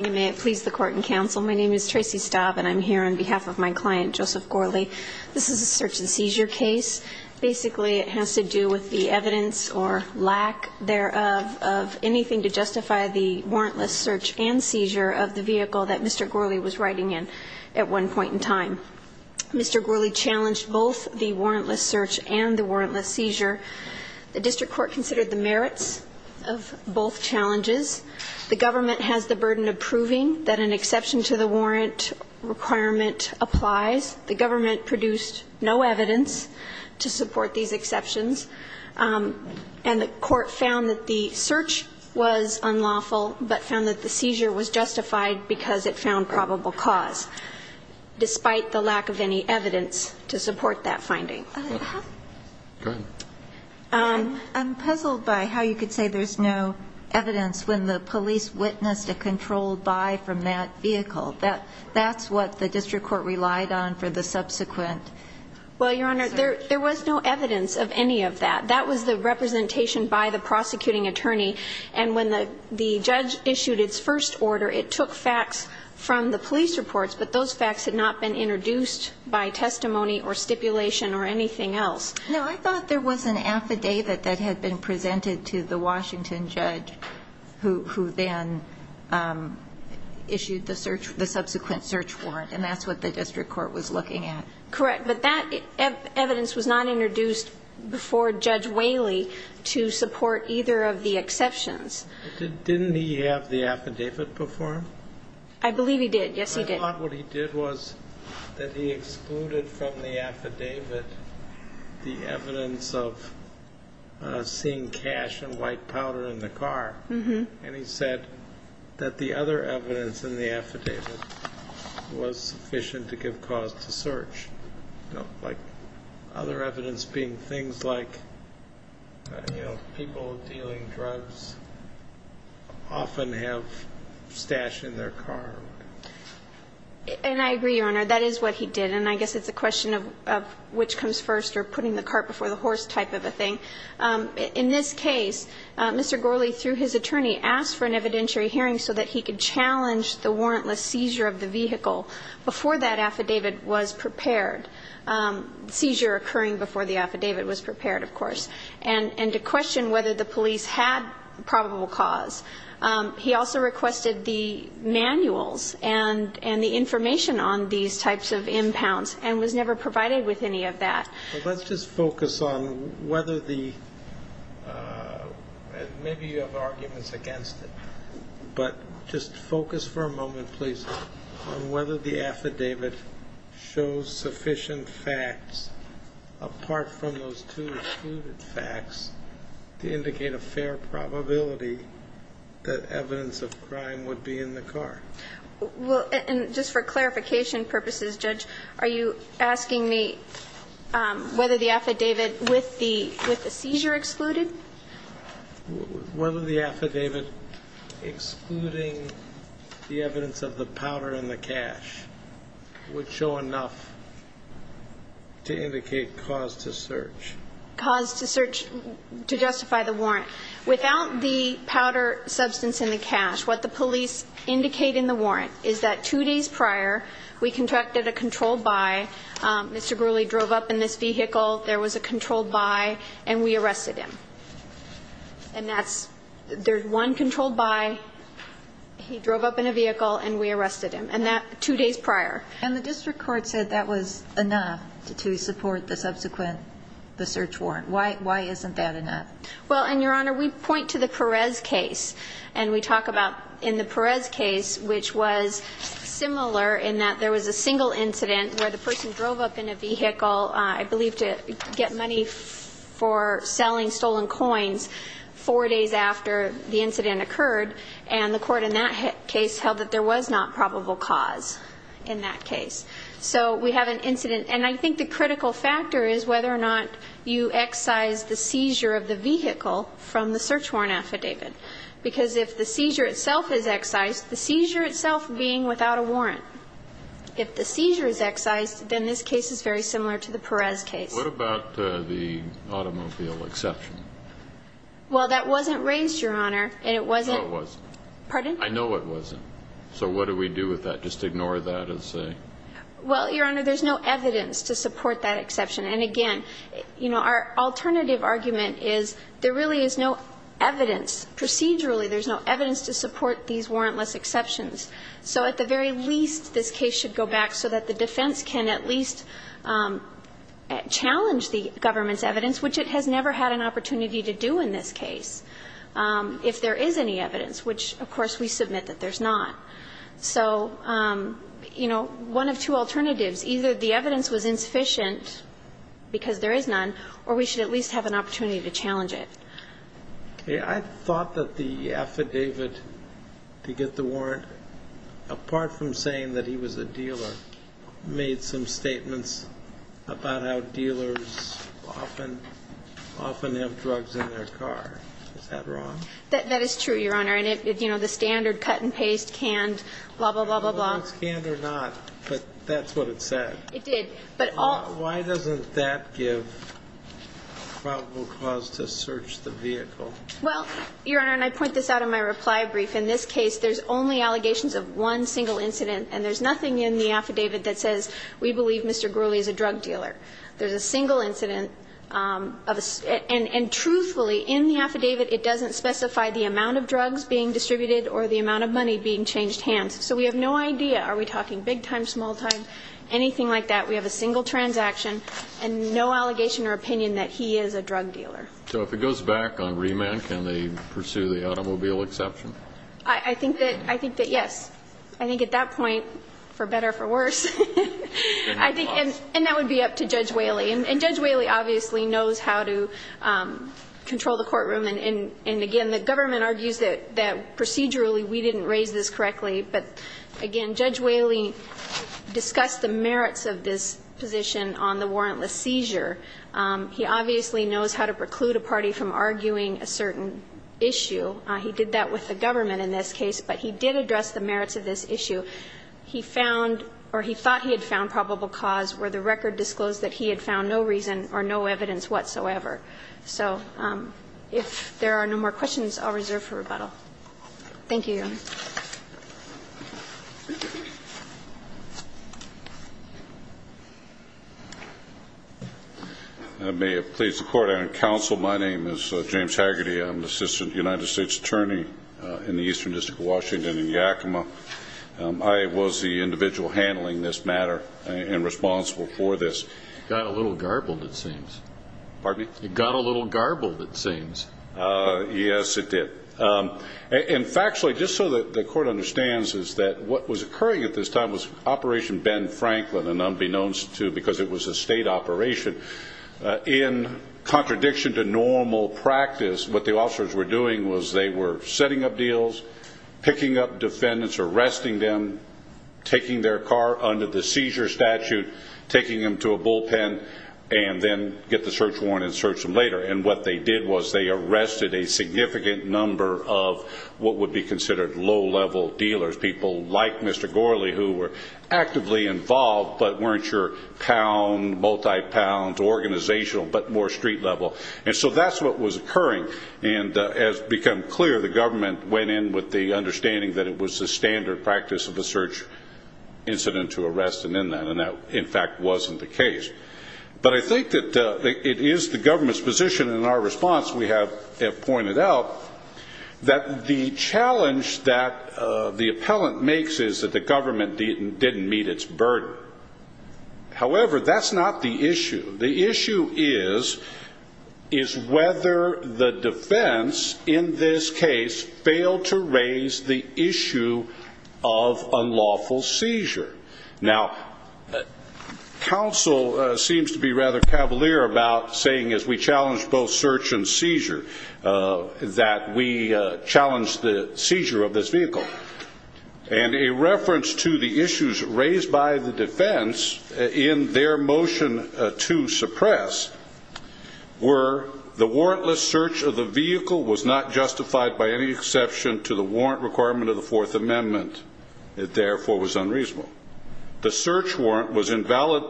You may please the court and counsel. My name is Tracy Staub and I'm here on behalf of my client Joseph Gourley. This is a search and seizure case. Basically it has to do with the evidence or lack thereof of anything to justify the warrantless search and seizure of the vehicle that Mr. Gourley was riding in at one point in time. Mr. Gourley challenged both the warrantless search and the warrantless seizure. The district court considered the merits of both challenges. The government has the burden of proving that an exception to the warrant requirement applies. The government produced no evidence to support these exceptions. And the court found that the search was unlawful but found that the seizure was justified because it found probable cause, despite the lack of any evidence to support that finding. Go ahead. I'm puzzled by how you could say there's no evidence when the police witnessed a controlled buy from that vehicle. That's what the district court relied on for the subsequent search. Well, Your Honor, there was no evidence of any of that. That was the representation by the prosecuting attorney. And when the judge issued its first order, it took facts from the police reports, but those facts had not been introduced by testimony or stipulation or anything else. No, I thought there was an affidavit that had been presented to the Washington judge who then issued the subsequent search warrant, and that's what the district court was looking at. Correct. But that evidence was not introduced before Judge Whaley to support either of the exceptions. Didn't he have the affidavit before him? I believe he did. Yes, he did. I thought what he did was that he excluded from the affidavit the evidence of seeing cash and white powder in the car, and he said that the other evidence in the affidavit was sufficient to give cause to search. Like other evidence being things like, you know, people dealing drugs often have stash in their car. And I agree, Your Honor, that is what he did. And I guess it's a question of which comes first or putting the cart before the horse type of a thing. In this case, Mr. Gorley, through his attorney, asked for an evidentiary hearing so that he could challenge the warrantless seizure of the vehicle before that affidavit was prepared. Seizure occurring before the affidavit was prepared, of course. And to question whether the police had probable cause. He also requested the manuals and the information on these types of impounds and was never provided with any of that. Well, let's just focus on whether the – maybe you have arguments against it, but just focus for a moment, please, on whether the affidavit shows sufficient facts, apart from those two excluded facts, to indicate a fair probability that evidence of crime would be in the car. Well, and just for clarification purposes, Judge, are you asking me whether the affidavit with the seizure excluded? Whether the affidavit excluding the evidence of the powder and the cash would show enough to indicate cause to search. Cause to search to justify the warrant. Without the powder substance in the cash, what the police indicate in the warrant is that two days prior, we conducted a controlled buy. Mr. Gorley drove up in this vehicle. There was a controlled buy, and we arrested him. And that's – there's one controlled buy, he drove up in a vehicle, and we arrested him. And that – two days prior. And the district court said that was enough to support the subsequent – the search warrant. Why isn't that enough? Well, and, Your Honor, we point to the Perez case, and we talk about in the Perez case, which was similar in that there was a single incident where the person drove up in a vehicle, I believe, to get money for selling stolen coins four days after the incident occurred. And the court in that case held that there was not probable cause in that case. So we have an incident. And I think the critical factor is whether or not you excise the seizure of the vehicle from the search warrant affidavit. Because if the seizure itself is excised, the seizure itself being without a warrant, if the seizure is excised, then this case is very similar to the Perez case. What about the automobile exception? Well, that wasn't raised, Your Honor, and it wasn't – No, it wasn't. Pardon? I know it wasn't. So what do we do with that? Just ignore that as a – Well, Your Honor, there's no evidence to support that exception. And, again, you know, our alternative argument is there really is no evidence. Procedurally, there's no evidence to support these warrantless exceptions. So at the very least, this case should go back so that the defense can at least challenge the government's evidence, which it has never had an opportunity to do in this case, if there is any evidence, which, of course, we submit that there's not. So, you know, one of two alternatives, either the evidence was insufficient because there is none, or we should at least have an opportunity to challenge I thought that the affidavit to get the warrant, apart from saying that he was a dealer, made some statements about how dealers often have drugs in their car. Is that wrong? That is true, Your Honor. And, you know, the standard cut and paste, canned, blah, blah, blah, blah, blah. I don't know if it's canned or not, but that's what it said. It did. But all Why doesn't that give probable cause to search the vehicle? Well, Your Honor, and I point this out in my reply brief, in this case, there's only allegations of one single incident, and there's nothing in the affidavit that says, we believe Mr. Gruley is a drug dealer. There's a single incident of a, and truthfully, in the affidavit, it doesn't specify the amount of drugs being distributed or the amount of money being changed hands. So we have no idea. Are we talking big time, small time, anything like that? We have a single transaction and no allegation or opinion that he is a drug dealer. So if it goes back on remand, can they pursue the automobile exception? I think that yes. I think at that point, for better or for worse. And that would be up to Judge Whaley. And Judge Whaley obviously knows how to control the courtroom. And, again, the government argues that procedurally we didn't raise this correctly. But, again, Judge Whaley discussed the merits of this position on the warrantless seizure. He obviously knows how to preclude a party from arguing a certain issue. He did that with the government in this case. But he did address the merits of this issue. He found or he thought he had found probable cause where the record disclosed that he had found no reason or no evidence whatsoever. So if there are no more questions, I'll reserve for rebuttal. Thank you, Your Honor. Thank you. May it please the Court. On counsel, my name is James Haggerty. I'm the Assistant United States Attorney in the Eastern District of Washington in Yakima. I was the individual handling this matter and responsible for this. It got a little garbled, it seems. Pardon me? It got a little garbled, it seems. Yes, it did. And factually, just so the Court understands, is that what was occurring at this time was Operation Ben Franklin, and unbeknownst to, because it was a state operation, in contradiction to normal practice, what the officers were doing was they were setting up deals, picking up defendants, arresting them, taking their car under the seizure statute, taking them to a bullpen, and then get the search warrant and search them later. And what they did was they arrested a significant number of what would be considered low-level dealers, people like Mr. Gourley who were actively involved but weren't your pound, multi-pound, organizational, but more street level. And so that's what was occurring. And as has become clear, the government went in with the understanding that it was the standard practice of a search incident to arrest and end that. And that, in fact, wasn't the case. But I think that it is the government's position in our response, we have pointed out, that the challenge that the appellant makes is that the government didn't meet its burden. However, that's not the issue. The issue is whether the defense, in this case, failed to raise the issue of unlawful seizure. Now, counsel seems to be rather cavalier about saying, as we challenge both search and seizure, that we challenge the seizure of this vehicle. And a reference to the issues raised by the defense in their motion to suppress were the warrantless search of the vehicle was not justified by any exception to the warrant requirement of the Fourth Amendment. It, therefore, was unreasonable. The search warrant was invalid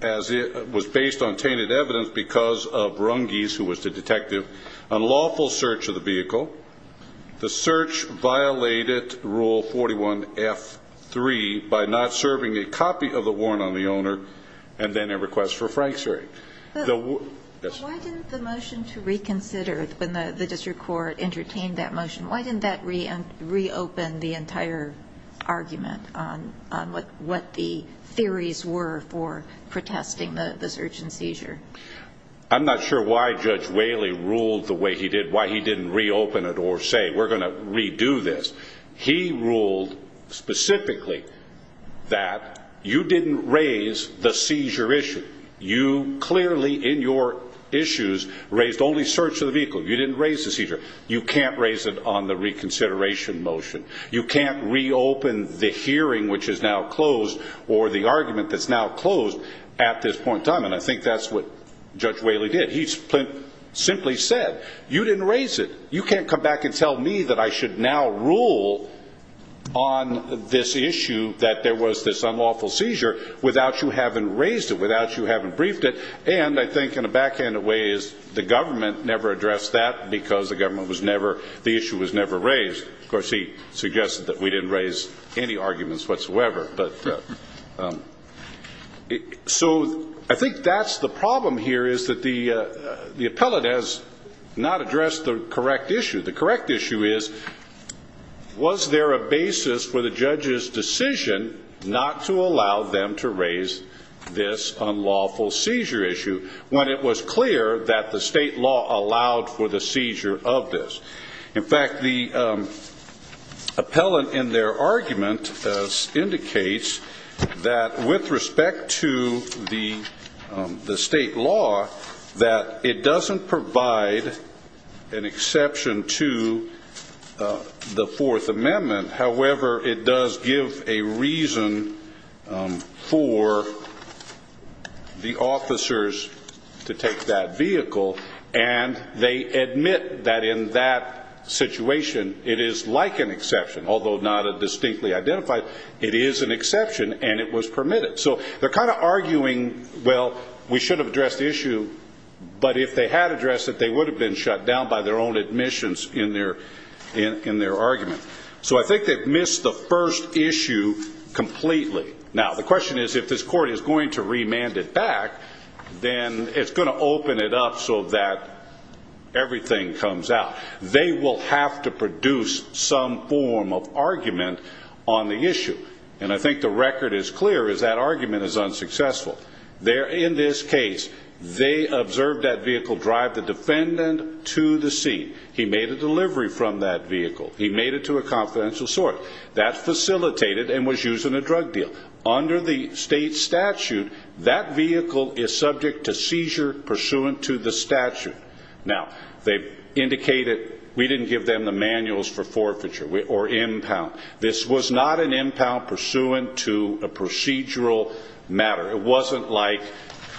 as it was based on tainted evidence because of Runge's, who was the detective, unlawful search of the vehicle. The search violated Rule 41F3 by not serving a copy of the warrant on the owner and then a request for Frank's hearing. Why didn't the motion to reconsider, when the district court entertained that motion, why didn't that reopen the entire argument on what the theories were for protesting the search and seizure? I'm not sure why Judge Whaley ruled the way he did, why he didn't reopen it or say, we're going to redo this. He ruled specifically that you didn't raise the seizure issue. You clearly, in your issues, raised only search of the vehicle. You didn't raise the seizure. You can't raise it on the reconsideration motion. You can't reopen the hearing, which is now closed, or the argument that's now closed at this point in time. And I think that's what Judge Whaley did. He simply said, you didn't raise it. You can't come back and tell me that I should now rule on this issue, that there was this unlawful seizure, without you having raised it, without you having briefed it. And I think in a backhanded way is the government never addressed that because the issue was never raised. Of course, he suggested that we didn't raise any arguments whatsoever. So I think that's the problem here is that the appellate has not addressed the correct issue. The correct issue is, was there a basis for the judge's decision not to allow them to raise this unlawful seizure issue, when it was clear that the state law allowed for the seizure of this? In fact, the appellant in their argument indicates that with respect to the state law, that it doesn't provide an exception to the Fourth Amendment. However, it does give a reason for the officers to take that vehicle. And they admit that in that situation, it is like an exception, although not a distinctly identified. It is an exception, and it was permitted. So they're kind of arguing, well, we should have addressed the issue. But if they had addressed it, they would have been shut down by their own admissions in their argument. So I think they've missed the first issue completely. Now, the question is, if this court is going to remand it back, then it's going to open it up so that everything comes out. They will have to produce some form of argument on the issue. And I think the record is clear is that argument is unsuccessful. In this case, they observed that vehicle drive the defendant to the scene. He made a delivery from that vehicle. He made it to a confidential source. That facilitated and was used in a drug deal. Under the state statute, that vehicle is subject to seizure pursuant to the statute. Now, they've indicated we didn't give them the manuals for forfeiture or impound. This was not an impound pursuant to a procedural matter. It wasn't like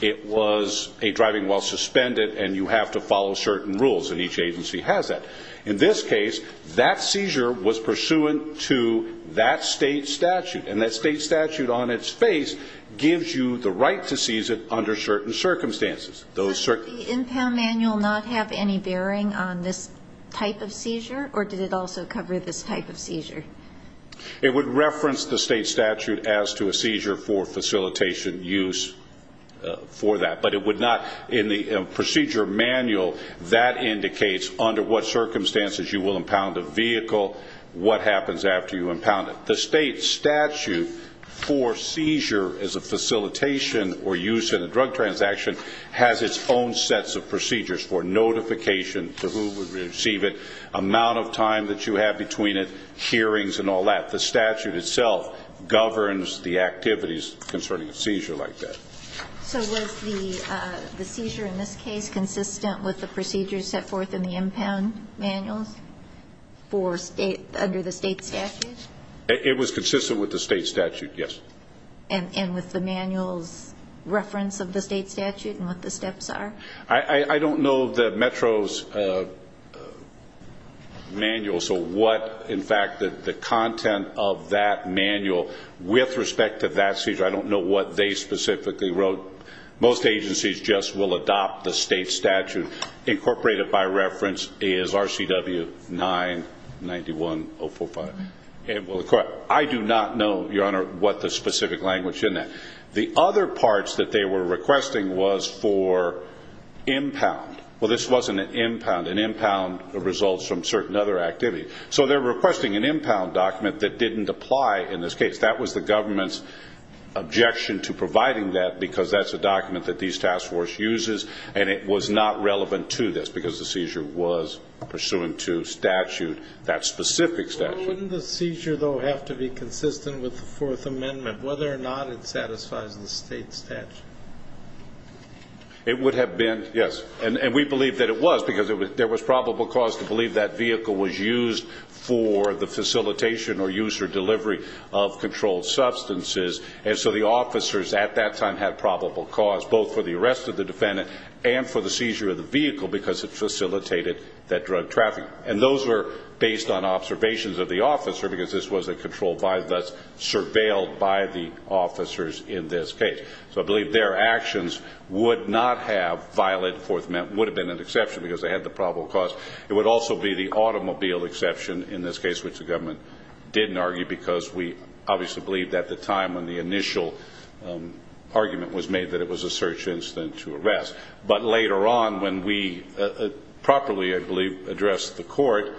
it was a driving while suspended and you have to follow certain rules, and each agency has that. In this case, that seizure was pursuant to that state statute, and that state statute on its face gives you the right to seize it under certain circumstances. Does the impound manual not have any bearing on this type of seizure, or did it also cover this type of seizure? It would reference the state statute as to a seizure for facilitation use for that, but it would not in the procedure manual that indicates under what circumstances you will impound a vehicle, what happens after you impound it. The state statute for seizure as a facilitation or use in a drug transaction has its own sets of procedures for notification to who would receive it, amount of time that you have between it, hearings and all that. The statute itself governs the activities concerning a seizure like that. So was the seizure in this case consistent with the procedures set forth in the impound manuals under the state statute? It was consistent with the state statute, yes. And with the manual's reference of the state statute and what the steps are? I don't know the Metro's manual, so what, in fact, the content of that manual with respect to that seizure. I don't know what they specifically wrote. Most agencies just will adopt the state statute incorporated by reference is RCW 991.045. I do not know, Your Honor, what the specific language in that. The other parts that they were requesting was for impound. Well, this wasn't an impound. An impound results from certain other activities. So they're requesting an impound document that didn't apply in this case. That was the government's objection to providing that because that's a document that these task forces uses, and it was not relevant to this because the seizure was pursuant to statute, that specific statute. Wouldn't the seizure, though, have to be consistent with the Fourth Amendment, whether or not it satisfies the state statute? It would have been, yes. And we believe that it was because there was probable cause to believe that vehicle was used for the facilitation or use or delivery of controlled substances. And so the officers at that time had probable cause both for the arrest of the defendant and for the seizure of the vehicle because it facilitated that drug trafficking. And those were based on observations of the officer because this was a controlled violence surveilled by the officers in this case. So I believe their actions would not have violated Fourth Amendment. It would have been an exception because they had the probable cause. It would also be the automobile exception in this case, which the government didn't argue because we obviously believed at the time when the initial argument was made that it was a search incident to arrest. But later on, when we properly, I believe, addressed the court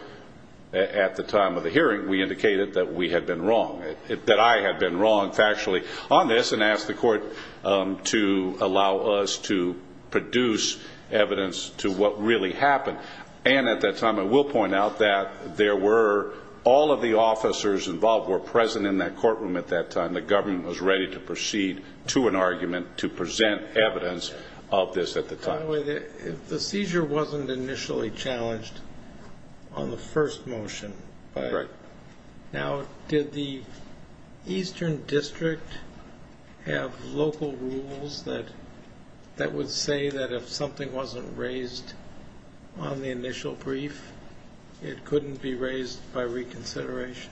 at the time of the hearing, we indicated that we had been wrong, that I had been wrong factually on this and asked the court to allow us to produce evidence to what really happened. And at that time, I will point out that there were all of the officers involved were present in that courtroom at that time. The government was ready to proceed to an argument to present evidence of this at the time. By the way, if the seizure wasn't initially challenged on the first motion, now did the Eastern District have local rules that would say that if something wasn't raised on the initial brief, it couldn't be raised by reconsideration?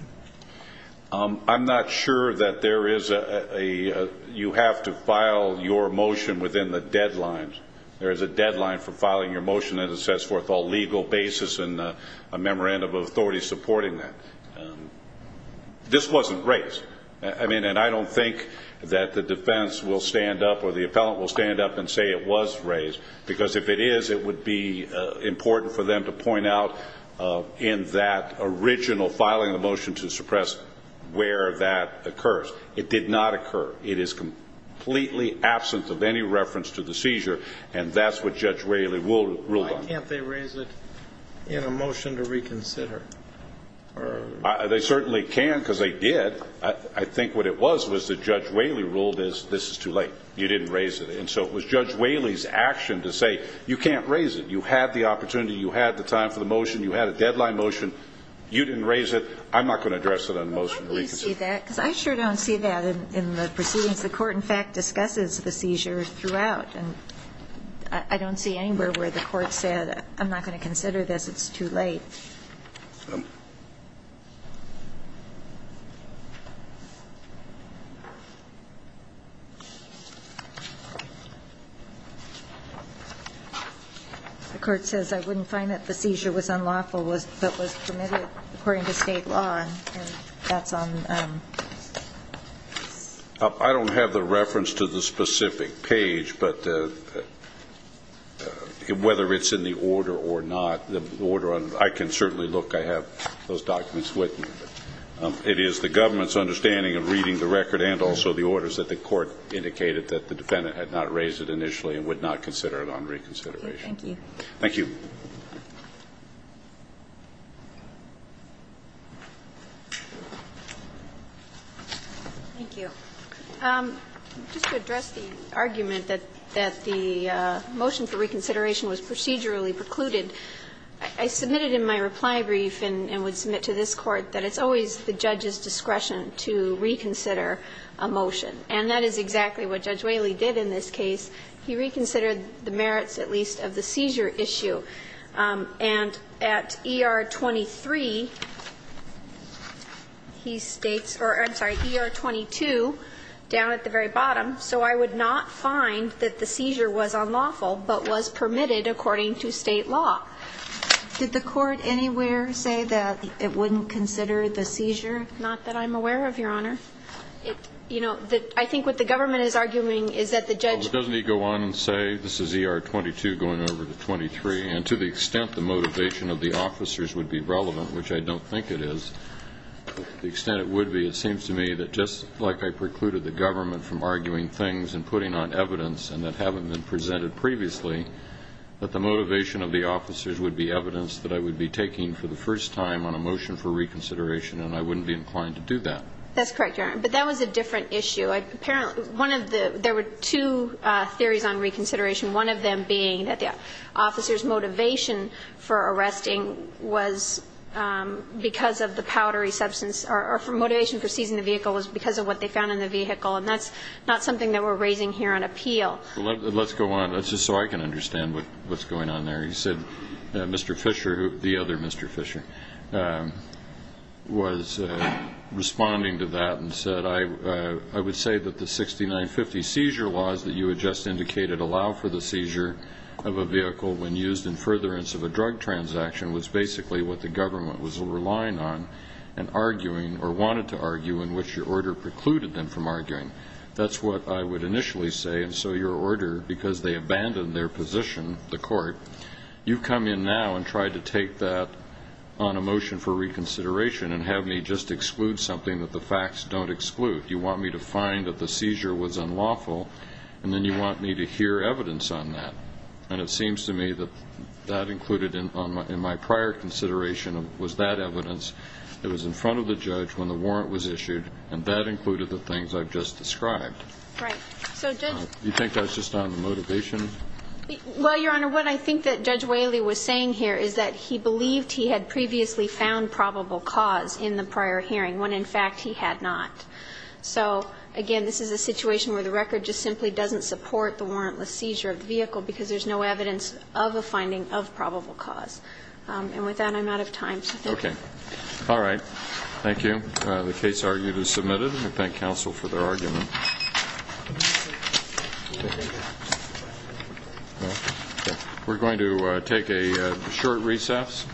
I'm not sure that there is a you have to file your motion within the deadline. There is a deadline for filing your motion that it sets forth a legal basis and a memorandum of authority supporting that. This wasn't raised. I mean, and I don't think that the defense will stand up or the appellant will stand up and say it was raised, because if it is, it would be important for them to point out in that original filing the motion to suppress where that occurs. It did not occur. It is completely absent of any reference to the seizure, and that's what Judge Whaley ruled on. Why can't they raise it in a motion to reconsider? They certainly can, because they did. I think what it was was that Judge Whaley ruled is this is too late. You didn't raise it. And so it was Judge Whaley's action to say you can't raise it. You had the opportunity. You had the time for the motion. You had a deadline motion. You didn't raise it. I'm not going to address it in a motion to reconsider. Can you see that? Because I sure don't see that in the proceedings. The Court, in fact, discusses the seizure throughout. And I don't see anywhere where the Court said I'm not going to consider this, it's too late. The Court says I wouldn't find that the seizure was unlawful, but was permitted according to State law. I don't have the reference to the specific page, but whether it's in the order or not, I can certainly look. I have those documents with me. It is the government's understanding of reading the record and also the orders that the Court indicated that the defendant had not raised it initially and would not consider it on reconsideration. Thank you. Thank you. Just to address the argument that the motion for reconsideration was procedurally precluded, I submitted in my reply brief and would submit to this Court that it's always the judge's discretion to reconsider a motion. And that is exactly what Judge Whaley did in this case. He reconsidered the merits, at least, of the seizure issue. And at ER 23, he states or I'm sorry, ER 22, down at the very bottom, so I would not find that the seizure was unlawful, but was permitted according to State law. Did the Court anywhere say that it wouldn't consider the seizure? Not that I'm aware of, Your Honor. You know, I think what the government is arguing is that the judge But doesn't he go on and say, this is ER 22 going over to 23, and to the extent the motivation of the officers would be relevant, which I don't think it is, the extent it would be, it seems to me that just like I precluded the government from arguing things and putting on evidence and that haven't been presented previously, that the motivation of the officers would be evidence that I would be taking for the first time on a motion for reconsideration, and I wouldn't be inclined to do that. That's correct, Your Honor. But that was a different issue. There were two theories on reconsideration, one of them being that the officers' motivation for arresting was because of the powdery substance or motivation for seizing the vehicle was because of what they found in the vehicle, and that's not something that we're raising here on appeal. Let's go on. That's just so I can understand what's going on there. You said Mr. Fisher, the other Mr. Fisher, was responding to that and said, I would say that the 6950 seizure laws that you had just indicated allow for the seizure of a vehicle when used in furtherance of a drug transaction was basically what the government was relying on and arguing or wanted to argue in which your order precluded them from arguing. That's what I would initially say, and so your order, because they abandoned their position, the court, you've come in now and tried to take that on a motion for reconsideration and have me just exclude something that the facts don't exclude. You want me to find that the seizure was unlawful, and then you want me to hear evidence on that. And it seems to me that that included in my prior consideration was that evidence that was in front of the judge when the warrant was issued, and that included the things I've just described. Right. Do you think that's just on the motivation? Well, Your Honor, what I think that Judge Whaley was saying here is that he believed he had previously found probable cause in the prior hearing when, in fact, he had not. So, again, this is a situation where the record just simply doesn't support the warrantless seizure of the vehicle because there's no evidence of a finding of probable cause. And with that, I'm out of time, so thank you. Okay. All right. Thank you. The case argued is submitted. We thank counsel for their argument. We're going to take a short recess.